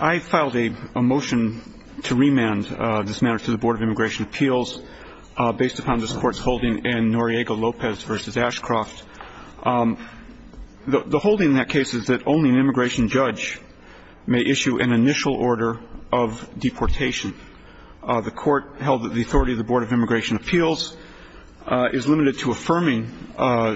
I filed a motion to remand this matter to the Board of Immigration Appeals based upon this Court's holding in Noriega-Lopez v. Ashcroft. The holding in that case is that only an immigration judge may issue an initial order of deportation. The Court held that the authority of the Board of Immigration Appeals is limited to affirming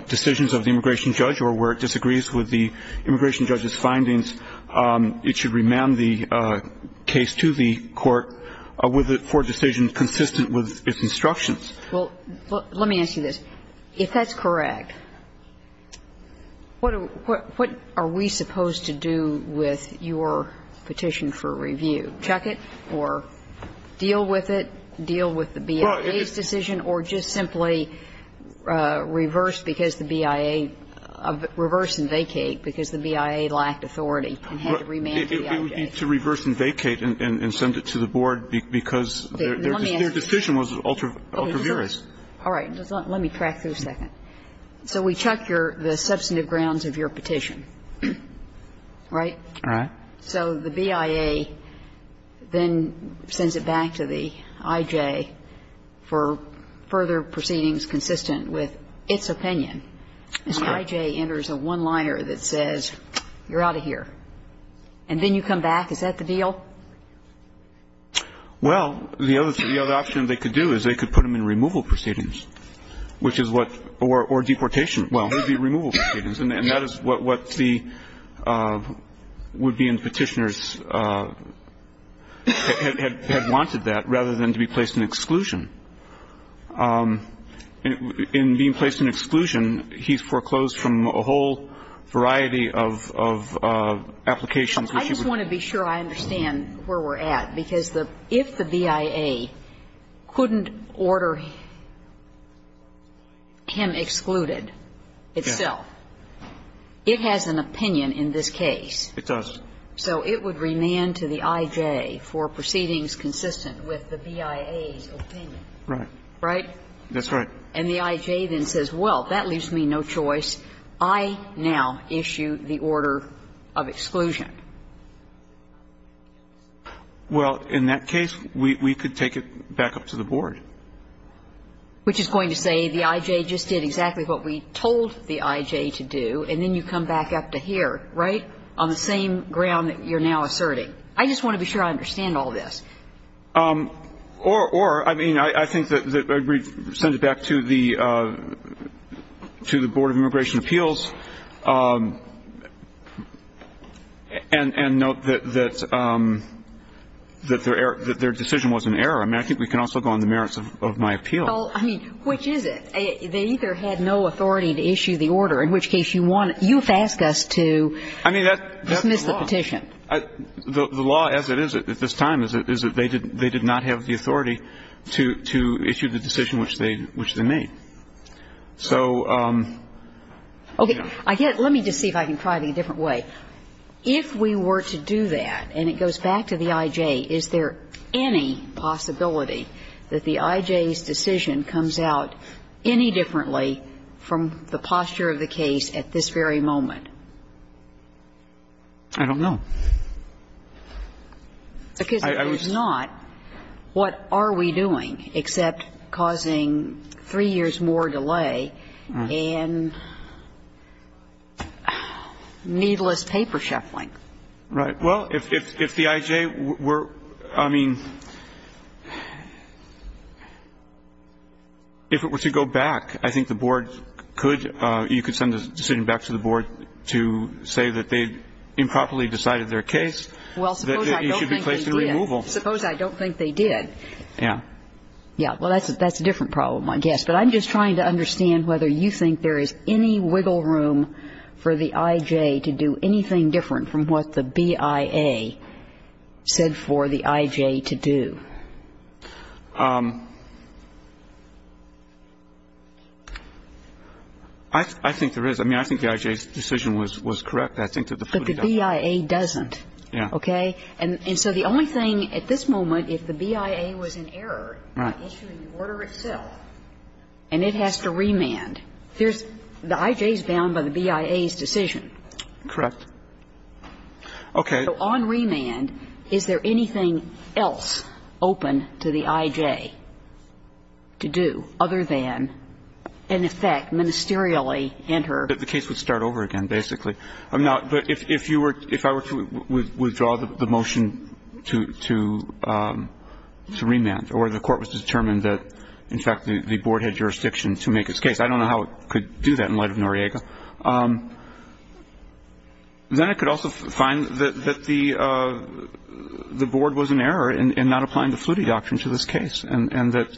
decisions of the immigration judge, or where it disagrees with the immigration judge's findings, it should remand the case to the Court for decisions consistent with its instructions. Well, let me ask you this. If that's correct, what are we supposed to do with your petition for review? Check it or deal with it, deal with the BIA's decision, or just simply reverse because the BIA – reverse and vacate because the BIA lacked authority and had to remand the BIA? It would be to reverse and vacate and send it to the Board because their decision was ultra-virous. All right. Let me track through a second. So we check the substantive grounds of your petition, right? Right. So the BIA then sends it back to the IJ for further proceedings consistent with its opinion. Correct. So the IJ enters a one-liner that says, you're out of here, and then you come back. Is that the deal? Well, the other option they could do is they could put them in removal proceedings, which is what – or deportation. Well, it would be removal proceedings, and that is what the would-be petitioners had wanted that, rather than to be placed in exclusion. In being placed in exclusion, he's foreclosed from a whole variety of applications which he would – I just want to be sure I understand where we're at, because if the BIA couldn't order him excluded itself, it has an opinion in this case. It does. So it would remand to the IJ for proceedings consistent with the BIA's opinion. Right. Right? That's right. And the IJ then says, well, that leaves me no choice. I now issue the order of exclusion. Well, in that case, we could take it back up to the Board. Which is going to say the IJ just did exactly what we told the IJ to do, and then you come back up to here, right, on the same ground that you're now asserting. I just want to be sure I understand all this. Or, I mean, I think that we send it back to the Board of Immigration Appeals and note that their decision was an error. I mean, I think we can also go on the merits of my appeal. Well, I mean, which is it? They either had no authority to issue the order, in which case you want – you've asked us to dismiss the petition. I mean, that's the law. The law, as it is at this time, is that they did not have the authority to issue the decision which they made. So, you know. Okay. Let me just see if I can try it in a different way. If we were to do that, and it goes back to the IJ, is there any possibility that the IJ's decision comes out any differently from the posture of the case at this very moment? I don't know. Because if there's not, what are we doing except causing three years more delay and needless paper shuffling? Right. Well, if the IJ were – I mean, if it were to go back, I think the board could send a decision back to the board to say that they improperly decided their case. Well, suppose I don't think they did. Suppose I don't think they did. Yeah. Yeah. Well, that's a different problem, I guess. But I'm just trying to understand whether you think there is any wiggle room for the IJ to do anything different from what the BIA said for the IJ to do. I think there is. I mean, I think the IJ's decision was correct. But the BIA doesn't. Yeah. Okay. And so the only thing at this moment, if the BIA was in error by issuing the order itself and it has to remand, the IJ is bound by the BIA's decision. Correct. Okay. So on remand, is there anything else open to the IJ to do other than, in effect, ministerially enter? The case would start over again, basically. Now, if you were – if I were to withdraw the motion to remand or the court was determined that, in fact, the board had jurisdiction to make its case, I don't know how it could do that in light of Noriega. Then it could also find that the board was in error in not applying the Flutti Doctrine to this case and that,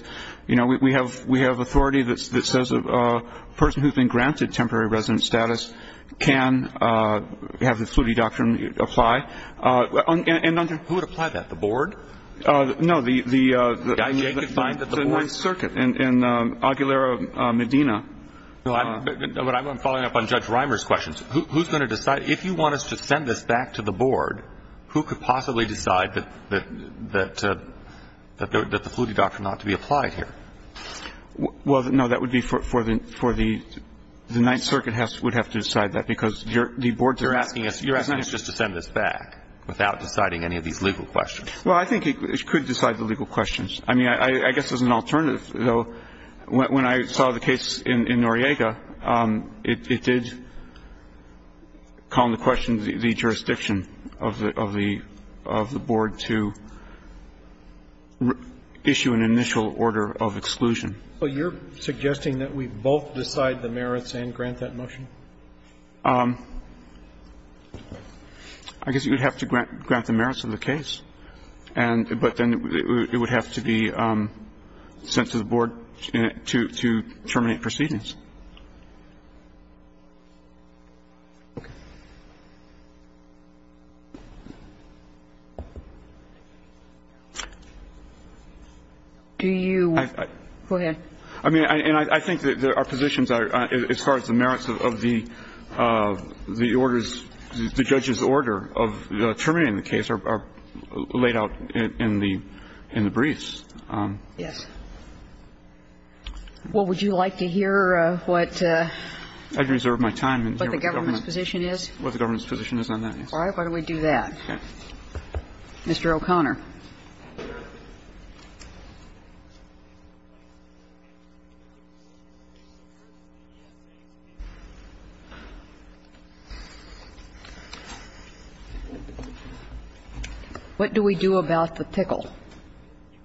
you know, we have authority that says a person who has been granted temporary resident status can have the Flutti Doctrine apply. Who would apply that? The board? No. The IJ could find that the board. The Ninth Circuit in Aguilera, Medina. But I'm following up on Judge Reimer's questions. Who's going to decide? If you want us to send this back to the board, who could possibly decide that the Flutti Doctrine ought to be applied here? Well, no, that would be for the – the Ninth Circuit would have to decide that, because the board's asking us. You're asking us just to send this back without deciding any of these legal questions. Well, I think it could decide the legal questions. I mean, I guess as an alternative, though, when I saw the case in Noriega, it did call into question the jurisdiction of the board to issue an initial order of exclusion. But you're suggesting that we both decide the merits and grant that motion? I guess you would have to grant the merits of the case. But then it would have to be sent to the board to terminate proceedings. Okay. Do you – go ahead. I mean, and I think that our positions are, as far as the merits of the orders, the judge's order of terminating the case are laid out in the briefs. Yes. Well, would you like to hear what the government's position is? What the government's position is on that, yes. All right. Why don't we do that. Mr. O'Connor. What do we do about the pickle?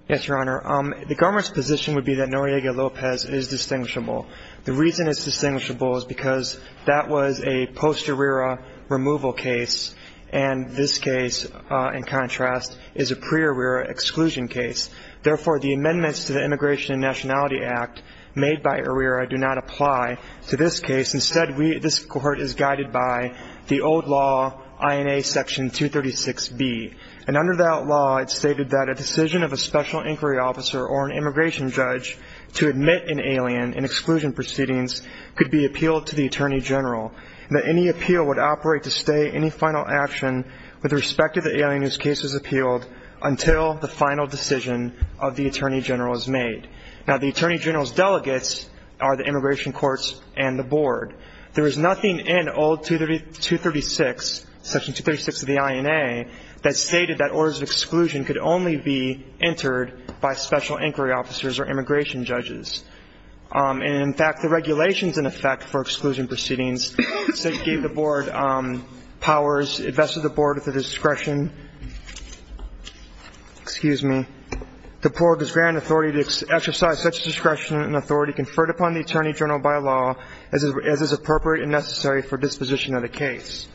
Yes, Your Honor. The government's position would be that Noriega-Lopez is distinguishable. The reason it's distinguishable is because that was a posterior removal case, and It's a posterior removal case. Therefore, the amendments to the Immigration and Nationality Act made by ARERA do not apply to this case. Instead, this court is guided by the old law, INA Section 236B. And under that law, it's stated that a decision of a special inquiry officer or an immigration judge to admit an alien in exclusion proceedings could be appealed to the Attorney General, and that any appeal would operate to stay any final action with respect to the alien whose case was appealed until the final decision of the Attorney General is made. Now, the Attorney General's delegates are the immigration courts and the board. There is nothing in old 236, Section 236 of the INA, that stated that orders of exclusion could only be entered by special inquiry officers or immigration judges. And, in fact, the regulations in effect for exclusion proceedings gave the board powers, invested the board with the discretion, excuse me, the board is granted authority to exercise such discretion and authority conferred upon the Attorney General by law as is appropriate and necessary for disposition of the case.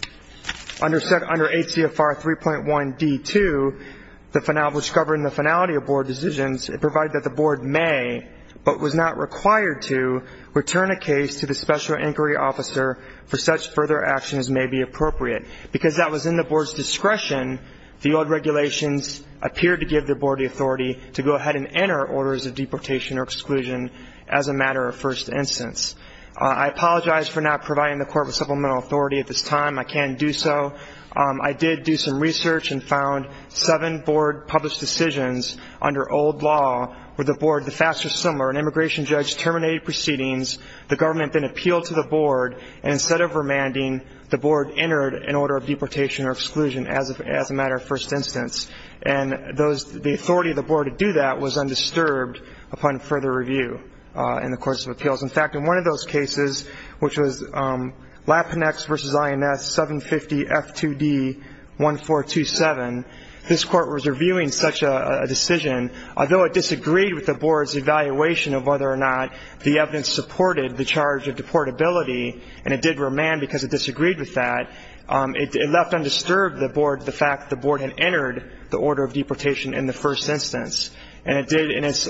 Under ACFR 3.1d.2, which govern the finality of board decisions, it provided that the board may, but was not required to, return a case to the special inquiry officer for such further action as may be appropriate. Because that was in the board's discretion, the old regulations appeared to give the board the authority to go ahead and enter orders of deportation or exclusion as a matter of first instance. I apologize for not providing the court with supplemental authority at this time. I can't do so. I did do some research and found seven board-published decisions under old law where the board, the faster, the similar, an immigration judge terminated proceedings, the government then appealed to the board, and instead of remanding, the board entered an order of deportation or exclusion as a matter of first instance. And the authority of the board to do that was undisturbed upon further review in the course of appeals. In fact, in one of those cases, which was LAPINEX v. INS 750 F2D 1427, this court was reviewing such a decision, although it disagreed with the board's evaluation of whether or not the evidence supported the charge of deportability, and it did remand because it disagreed with that, it left undisturbed the fact that the board had entered the order of deportation in the first instance, and it did in its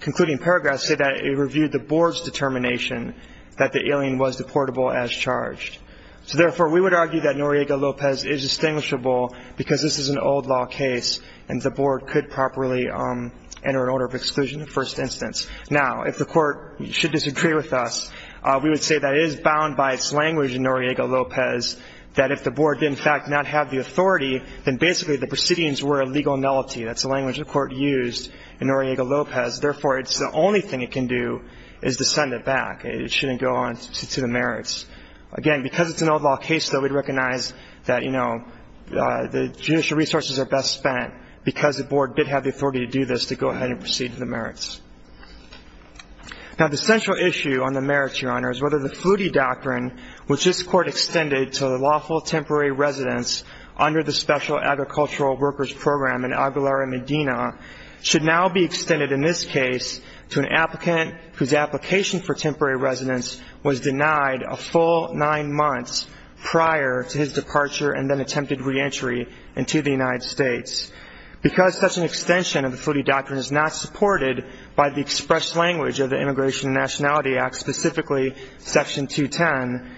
concluding paragraph say that it reviewed the board's determination that the alien was deportable as charged. So therefore, we would argue that Noriega-Lopez is distinguishable because this is an old law case and the board could properly enter an order of exclusion in the first instance. Now, if the court should disagree with us, we would say that it is bound by its language in Noriega-Lopez that if the board did in fact not have the authority, then basically the proceedings were a legal nullity. That's the language the court used in Noriega-Lopez. Therefore, it's the only thing it can do is to send it back. It shouldn't go on to the merits. Again, because it's an old law case, though, we'd recognize that, you know, the judicial resources are best spent because the board did have the authority to do this, to go ahead and proceed to the merits. Now, the central issue on the merits, Your Honor, is whether the Flutie Doctrine, which this court extended to the lawful temporary residence under the Special Agricultural Workers Program in Aguilera Medina, should now be extended in this case to an applicant whose application for temporary residence was denied a full nine months prior to his departure and then attempted reentry into the United States. Because such an extension of the Flutie Doctrine is not supported by the expressed language of the Immigration and Nationality Act, specifically Section 210,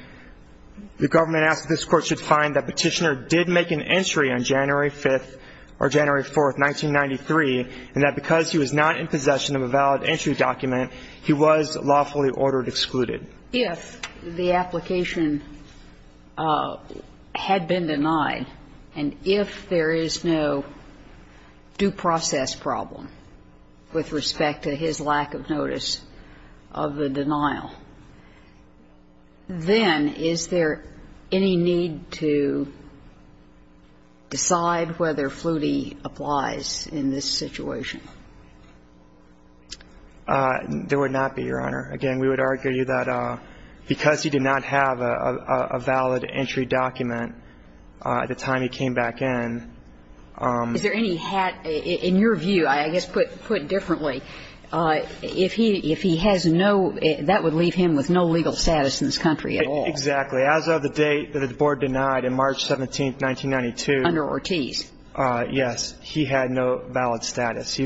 the government asks that this Court should find that Petitioner did make an entry on January 5th or January 4th, 1993, and that because he was not in possession of a valid entry document, he was lawfully ordered excluded. If the application had been denied and if there is no due process problem with respect to his lack of notice of the denial, then is there any need to decide whether Flutie applies in this situation? There would not be, Your Honor. Again, we would argue that because he did not have a valid entry document at the time he came back in. Is there any hat? In your view, I guess put differently, if he has no – that would leave him with no legal status in this country at all. Exactly. As of the date that the Board denied, March 17th, 1992. Under Ortiz. Yes. He had no valid status.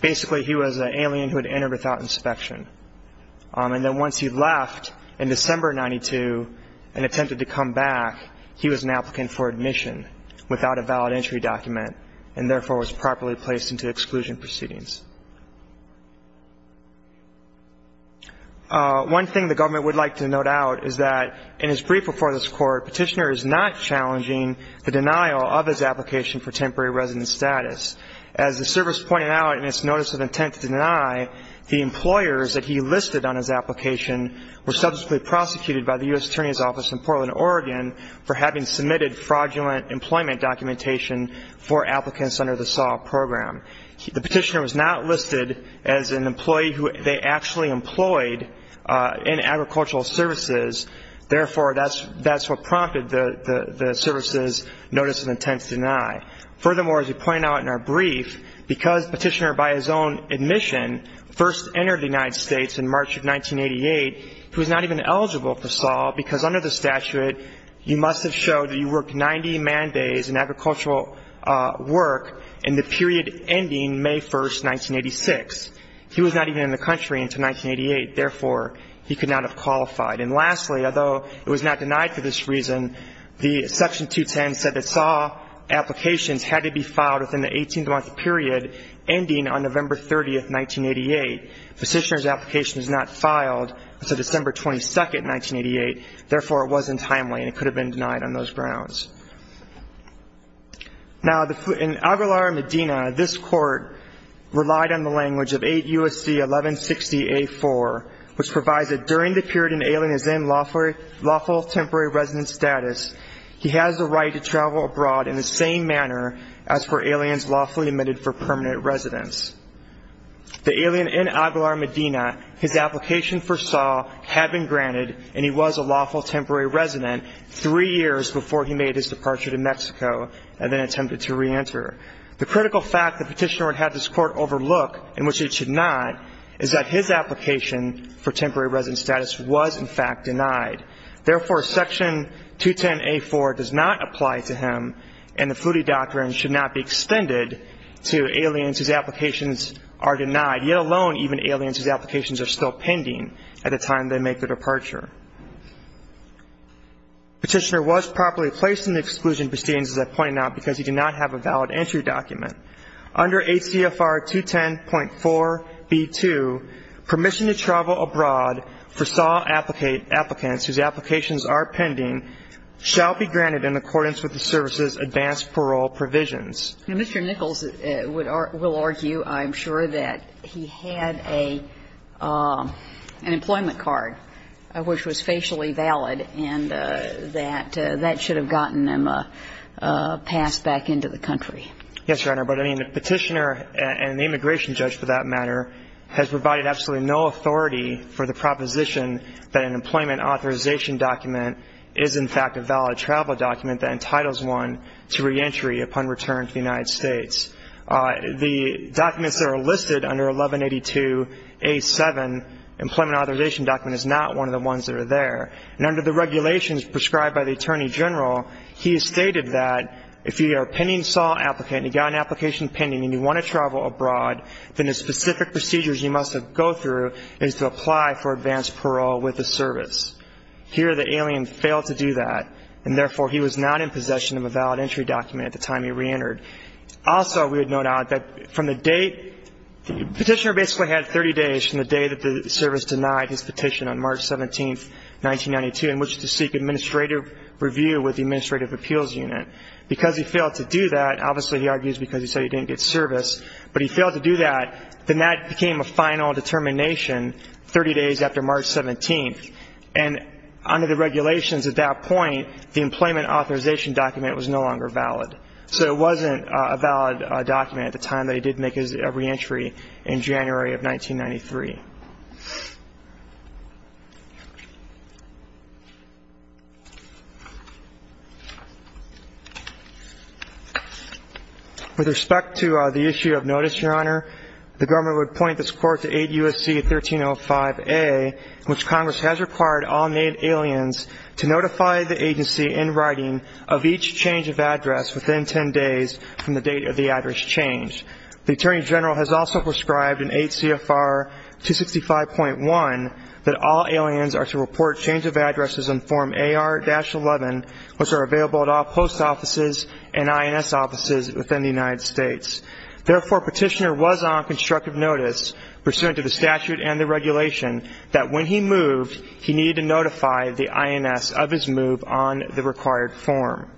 Basically, he was an alien who had entered without inspection. And then once he left in December of 1992 and attempted to come back, he was an applicant for admission without a valid entry document and therefore was properly placed into exclusion proceedings. One thing the government would like to note out is that in his brief before this Court, Petitioner is not challenging the denial of his application for temporary resident status. As the service pointed out in its notice of intent to deny, the employers that he listed on his application were subsequently prosecuted by the U.S. Attorney's Office in Portland, Oregon, for having submitted fraudulent employment documentation for applicants under the SAW program. The Petitioner was not listed as an employee who they actually employed in agricultural services. Therefore, that's what prompted the service's notice of intent to deny. Furthermore, as we point out in our brief, because Petitioner by his own admission first entered the United States in March of 1988, he was not even eligible for SAW because under the statute, you must have showed that you worked 90 man days in agricultural work in the period ending May 1st, 1986. He was not even in the country until 1988. Therefore, he could not have qualified. And lastly, although it was not denied for this reason, the Section 210 said that SAW applications had to be filed within the 18-month period ending on November 30th, 1988. Petitioner's application was not filed until December 22nd, 1988. Therefore, it wasn't timely and it could have been denied on those grounds. Now, in Aguilar Medina, this Court relied on the language of 8 U.S.C. 1160A4, which provides that during the period an alien is in lawful temporary resident status, he has the right to travel abroad in the same manner as for aliens lawfully admitted for permanent residence. The alien in Aguilar Medina, his application for SAW had been granted, and he was a lawful temporary resident three years before he made his departure to Mexico and then attempted to reenter. The critical fact that Petitioner would have this Court overlook, in which it should not, is that his application for temporary resident status was, in fact, denied. Therefore, Section 210A4 does not apply to him, and the Flutie Doctrine should not be extended to aliens whose applications are denied, yet alone even aliens whose applications are still pending at the time they make their departure. Petitioner was properly placed in the exclusion proceedings, as I pointed out, because he did not have a valid entry document. Under ACFR 210.4b2, permission to travel abroad for SAW applicants whose applications are pending shall be granted in accordance with the service's advanced parole provisions. Mr. Nichols will argue, I'm sure, that he had an employment card which was facially valid and that that should have gotten him passed back into the country. Yes, Your Honor, but Petitioner and the immigration judge, for that matter, has provided absolutely no authority for the proposition that an employment authorization document is, in fact, a valid travel document that entitles one to reentry upon return to the United States. The documents that are listed under 1182A7, employment authorization document, is not one of the ones that are there, and under the regulations prescribed by the Attorney General, he has stated that if you are a pending SAW applicant and you've got an application pending and you want to travel abroad, then the specific procedures you must go through is to apply for advanced parole with the service. Here the alien failed to do that, and therefore he was not in possession of a valid entry document at the time he reentered. Also, we would note out that from the date, Petitioner basically had 30 days from the day that the service denied his petition on March 17, 1992, in which to seek administrative review with the Administrative Appeals Unit. Because he failed to do that, obviously he argues because he said he didn't get service, but he failed to do that, then that became a final determination 30 days after March 17, and under the regulations at that point, the employment authorization document was no longer valid. So it wasn't a valid document at the time that he did make his reentry in January of 1993. With respect to the issue of notice, Your Honor, the government would point this court to 8 U.S.C. 1305a, in which Congress has required all made aliens to notify the agency in writing of each change of address within 10 days from the date of the address change. The Attorney General has also prescribed in 8 C.F.R. 265.1 that all aliens are to report change of addresses in Form AR-11, which are available at all post offices and INS offices within the United States. Therefore, Petitioner was on constructive notice, pursuant to the statute and the regulation, that when he moved, he needed to notify the INS of his move on the required form.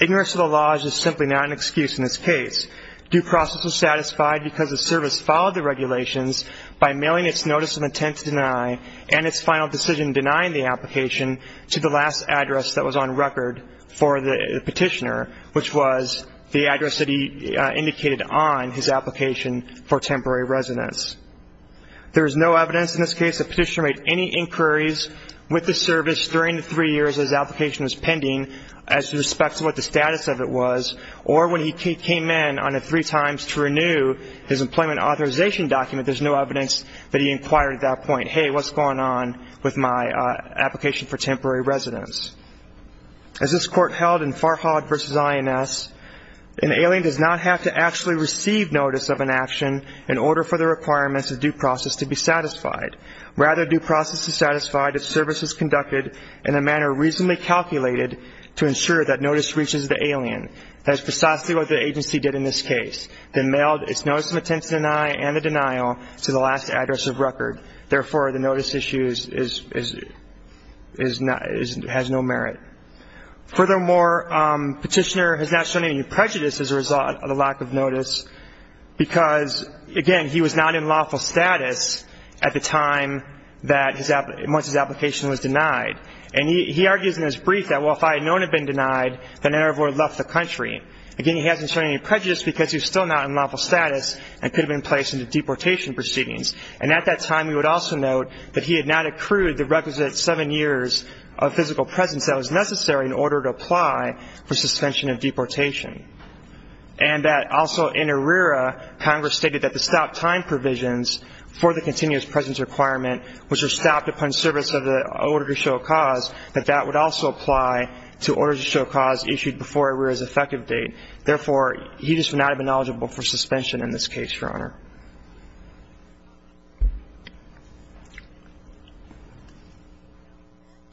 Ignorance of the laws is simply not an excuse in this case. Due process was satisfied because the service followed the regulations by mailing its notice of intent to deny and its final decision denying the application to the last address that was on record for the Petitioner, which was the address that he indicated on his application for temporary residence. There is no evidence in this case that Petitioner made any inquiries with the service during the three years his application was pending as to respect to what the status of it was, or when he came in on the three times to renew his employment authorization document, there's no evidence that he inquired at that point, hey, what's going on with my application for temporary residence? As this Court held in Farhad v. INS, an alien does not have to actually receive notice of an action in order for the requirements of due process to be satisfied. Rather, due process is satisfied if service is conducted in a manner reasonably calculated to ensure that notice reaches the alien. That is precisely what the agency did in this case. They mailed its notice of intent to deny and the denial to the last address of record. Therefore, the notice issue has no merit. Furthermore, Petitioner has not shown any prejudice as a result of the lack of notice because, again, he was not in lawful status at the time that his application was denied. And he argues in his brief that, well, if I had known it had been denied, then I never would have left the country. Again, he hasn't shown any prejudice because he was still not in lawful status and could have been placed into deportation proceedings. And at that time, we would also note that he had not accrued the requisite seven years of physical presence that was necessary in order to apply for suspension of deportation. And that also in ARERA, Congress stated that the stop time provisions for the continuous presence requirement, which are stopped upon service of the order to show cause, that that would also apply to order to show cause issued before ARERA's effective date. Therefore, he just would not have been eligible for suspension in this case, Your Honor.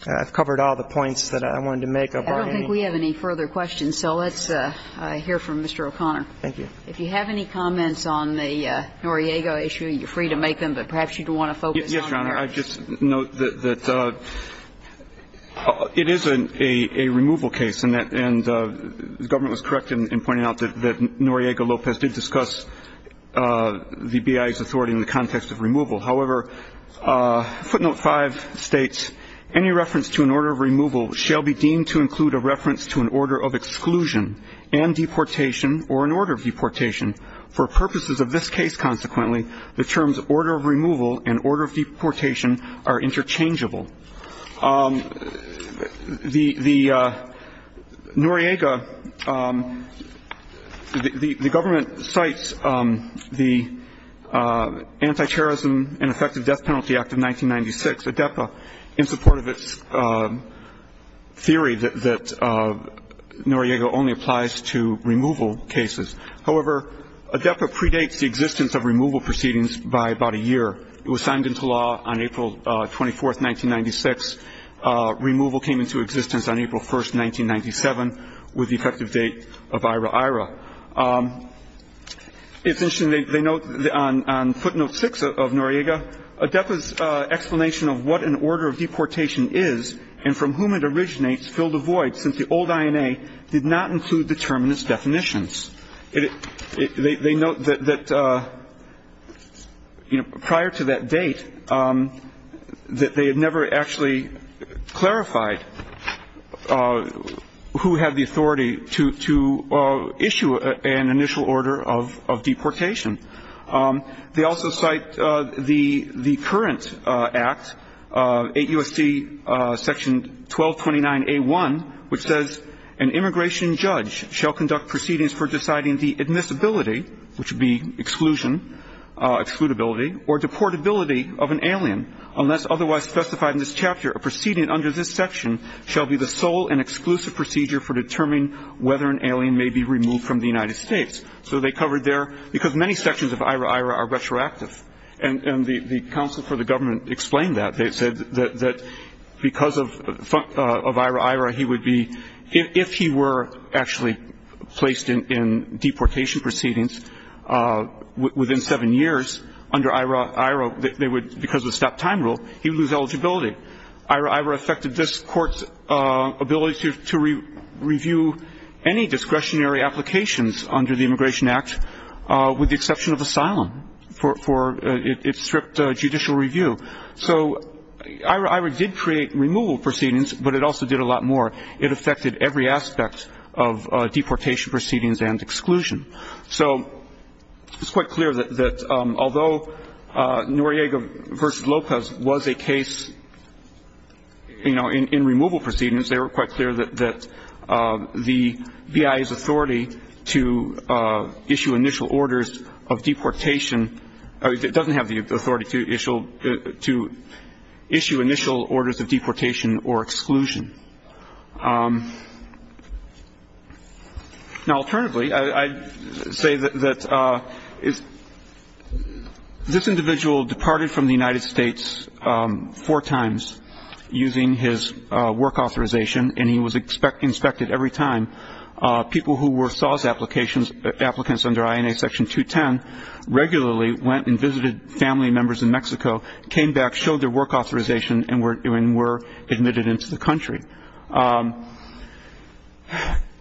I've covered all the points that I wanted to make. I don't think we have any further questions. So let's hear from Mr. O'Connor. Thank you. If you have any comments on the Noriega issue, you're free to make them. But perhaps you do want to focus on ARERA. Yes, Your Honor. I just note that it is a removal case, and the government was correct in pointing out that Noriega Lopez did discuss the BIA's authority in the context of removal. However, footnote 5 states, any reference to an order of removal shall be deemed to include a reference to an order of exclusion and deportation or an order of deportation. For purposes of this case, consequently, the terms order of removal and order of deportation are interchangeable. The Noriega, the government cites the Anti-terrorism and Effective Death Penalty Act of 1996, ADEPA, in support of its theory that Noriega only applies to removal cases. However, ADEPA predates the existence of removal proceedings by about a year. It was signed into law on April 24, 1996. Removal came into existence on April 1, 1997, with the effective date of AIRA-AIRA. It's interesting. They note on footnote 6 of Noriega, ADEPA's explanation of what an order of deportation is and from whom it originates filled a void since the old INA did not include the term in its definitions. They note that, you know, prior to that date, that they had never actually clarified who had the authority to issue an initial order of deportation. They also cite the current act, 8 U.S.C. section 1229A1, which says an immigration judge shall conduct proceedings for deciding the admissibility, which would be exclusion, excludability, or deportability of an alien. Unless otherwise specified in this chapter, a proceeding under this section shall be the sole and exclusive procedure for determining whether an alien may be removed from the United States. So they covered there, because many sections of AIRA-AIRA are retroactive. And the counsel for the government explained that. They said that because of AIRA-AIRA, he would be, if he were actually placed in deportation proceedings within seven years under AIRA-AIRA, they would, because of the stop time rule, he would lose eligibility. AIRA-AIRA affected this court's ability to review any discretionary applications under the Immigration Act, with the exception of asylum for its strict judicial review. So AIRA-AIRA did create removal proceedings, but it also did a lot more. It affected every aspect of deportation proceedings and exclusion. So it's quite clear that although Noriega v. Lopez was a case, you know, in removal proceedings, they were quite clear that the BIA's authority to issue initial orders of deportation, it doesn't have the authority to issue initial orders of deportation or exclusion. Now, alternatively, I'd say that this individual departed from the United States four times using his work authorization, and he was inspected every time. People who were SAWS applicants under INA Section 210 regularly went and visited family members in Mexico, came back, showed their work authorization, and were admitted into the country.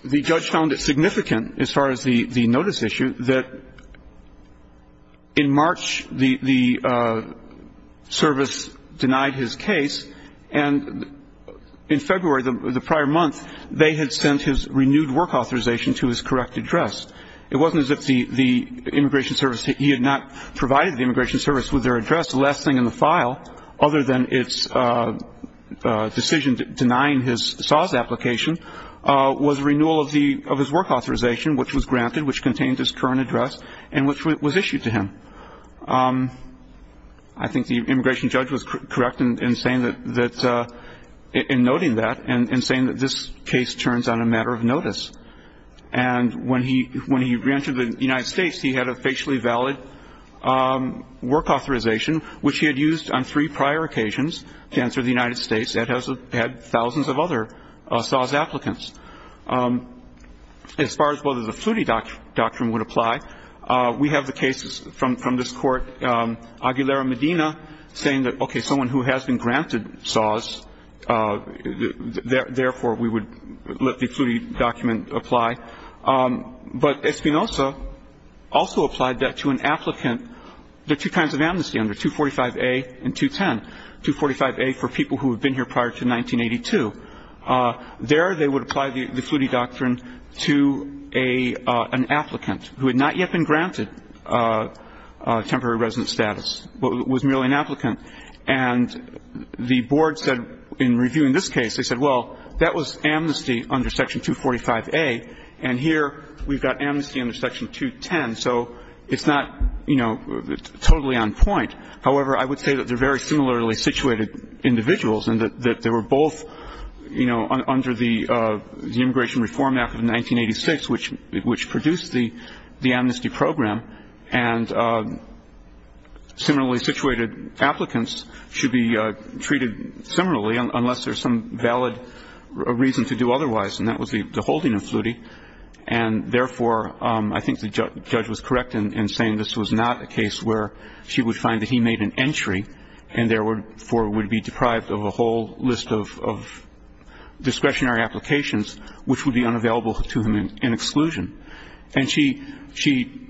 The judge found it significant, as far as the notice issue, that in March the service denied his case, and in February, the prior month, they had sent his renewed work authorization to his correct address. It wasn't as if the Immigration Service, he had not provided the Immigration Service with their address. The last thing in the file, other than its decision denying his SAWS application, was renewal of his work authorization, which was granted, which contained his current address, and which was issued to him. I think the immigration judge was correct in saying that, in noting that, and saying that this case turns on a matter of notice. And when he re-entered the United States, he had a facially valid work authorization, which he had used on three prior occasions to enter the United States, and had thousands of other SAWS applicants. As far as whether the Flutti Doctrine would apply, we have the cases from this Court. Aguilera-Medina saying that, okay, someone who has been granted SAWS, therefore, we would let the Flutti Document apply. But Espinoza also applied that to an applicant. There are two kinds of amnesty under 245A and 210, 245A for people who had been here prior to 1982. There they would apply the Flutti Doctrine to an applicant who had not yet been granted temporary resident status, but was merely an applicant. And the Board said in reviewing this case, they said, well, that was amnesty under Section 245A, and here we've got amnesty under Section 210, so it's not, you know, totally on point. However, I would say that they're very similarly situated individuals, and that they were both, you know, under the Immigration Reform Act of 1986, which produced the amnesty program, and similarly situated applicants should be treated similarly unless there's some valid reason to do otherwise, And therefore, I think the judge was correct in saying this was not a case where she would find that he made an entry and therefore would be deprived of a whole list of discretionary applications, which would be unavailable to him in exclusion. And she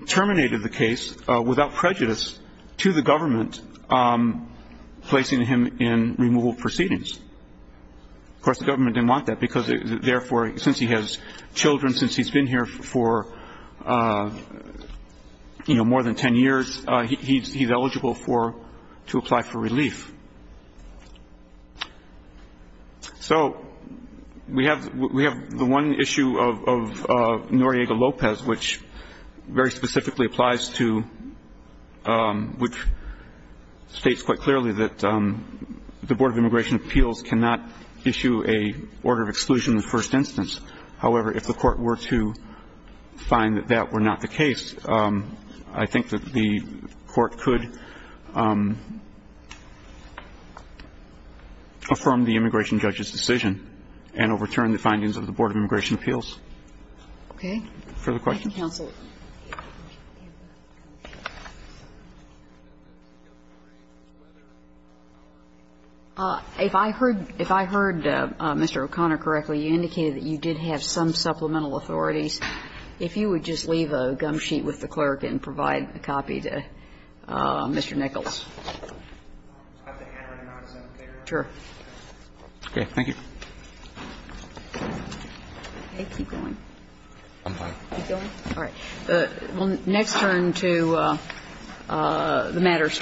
terminated the case without prejudice to the government, placing him in removal proceedings. Of course, the government didn't want that because, therefore, since he has children, since he's been here for, you know, more than 10 years, he's eligible to apply for relief. So we have the one issue of Noriega-Lopez, which very specifically applies to, which states quite clearly that the Board of Immigration Appeals cannot issue a order of exclusion in the first instance. However, if the Court were to find that that were not the case, I think that the Court could affirm the immigration judge's decision and overturn the findings of the Board of Immigration Appeals. Okay. Further questions? Thank you, counsel. If I heard Mr. O'Connor correctly, you indicated that you did have some supplemental authorities. If you would just leave a gum sheet with the clerk and provide a copy to Mr. Nichols. I have the handwriting on it. Is that okay? Sure. Okay. Thank you. Okay. Keep going. I'm fine. Keep going? All right. We'll next turn to the matters.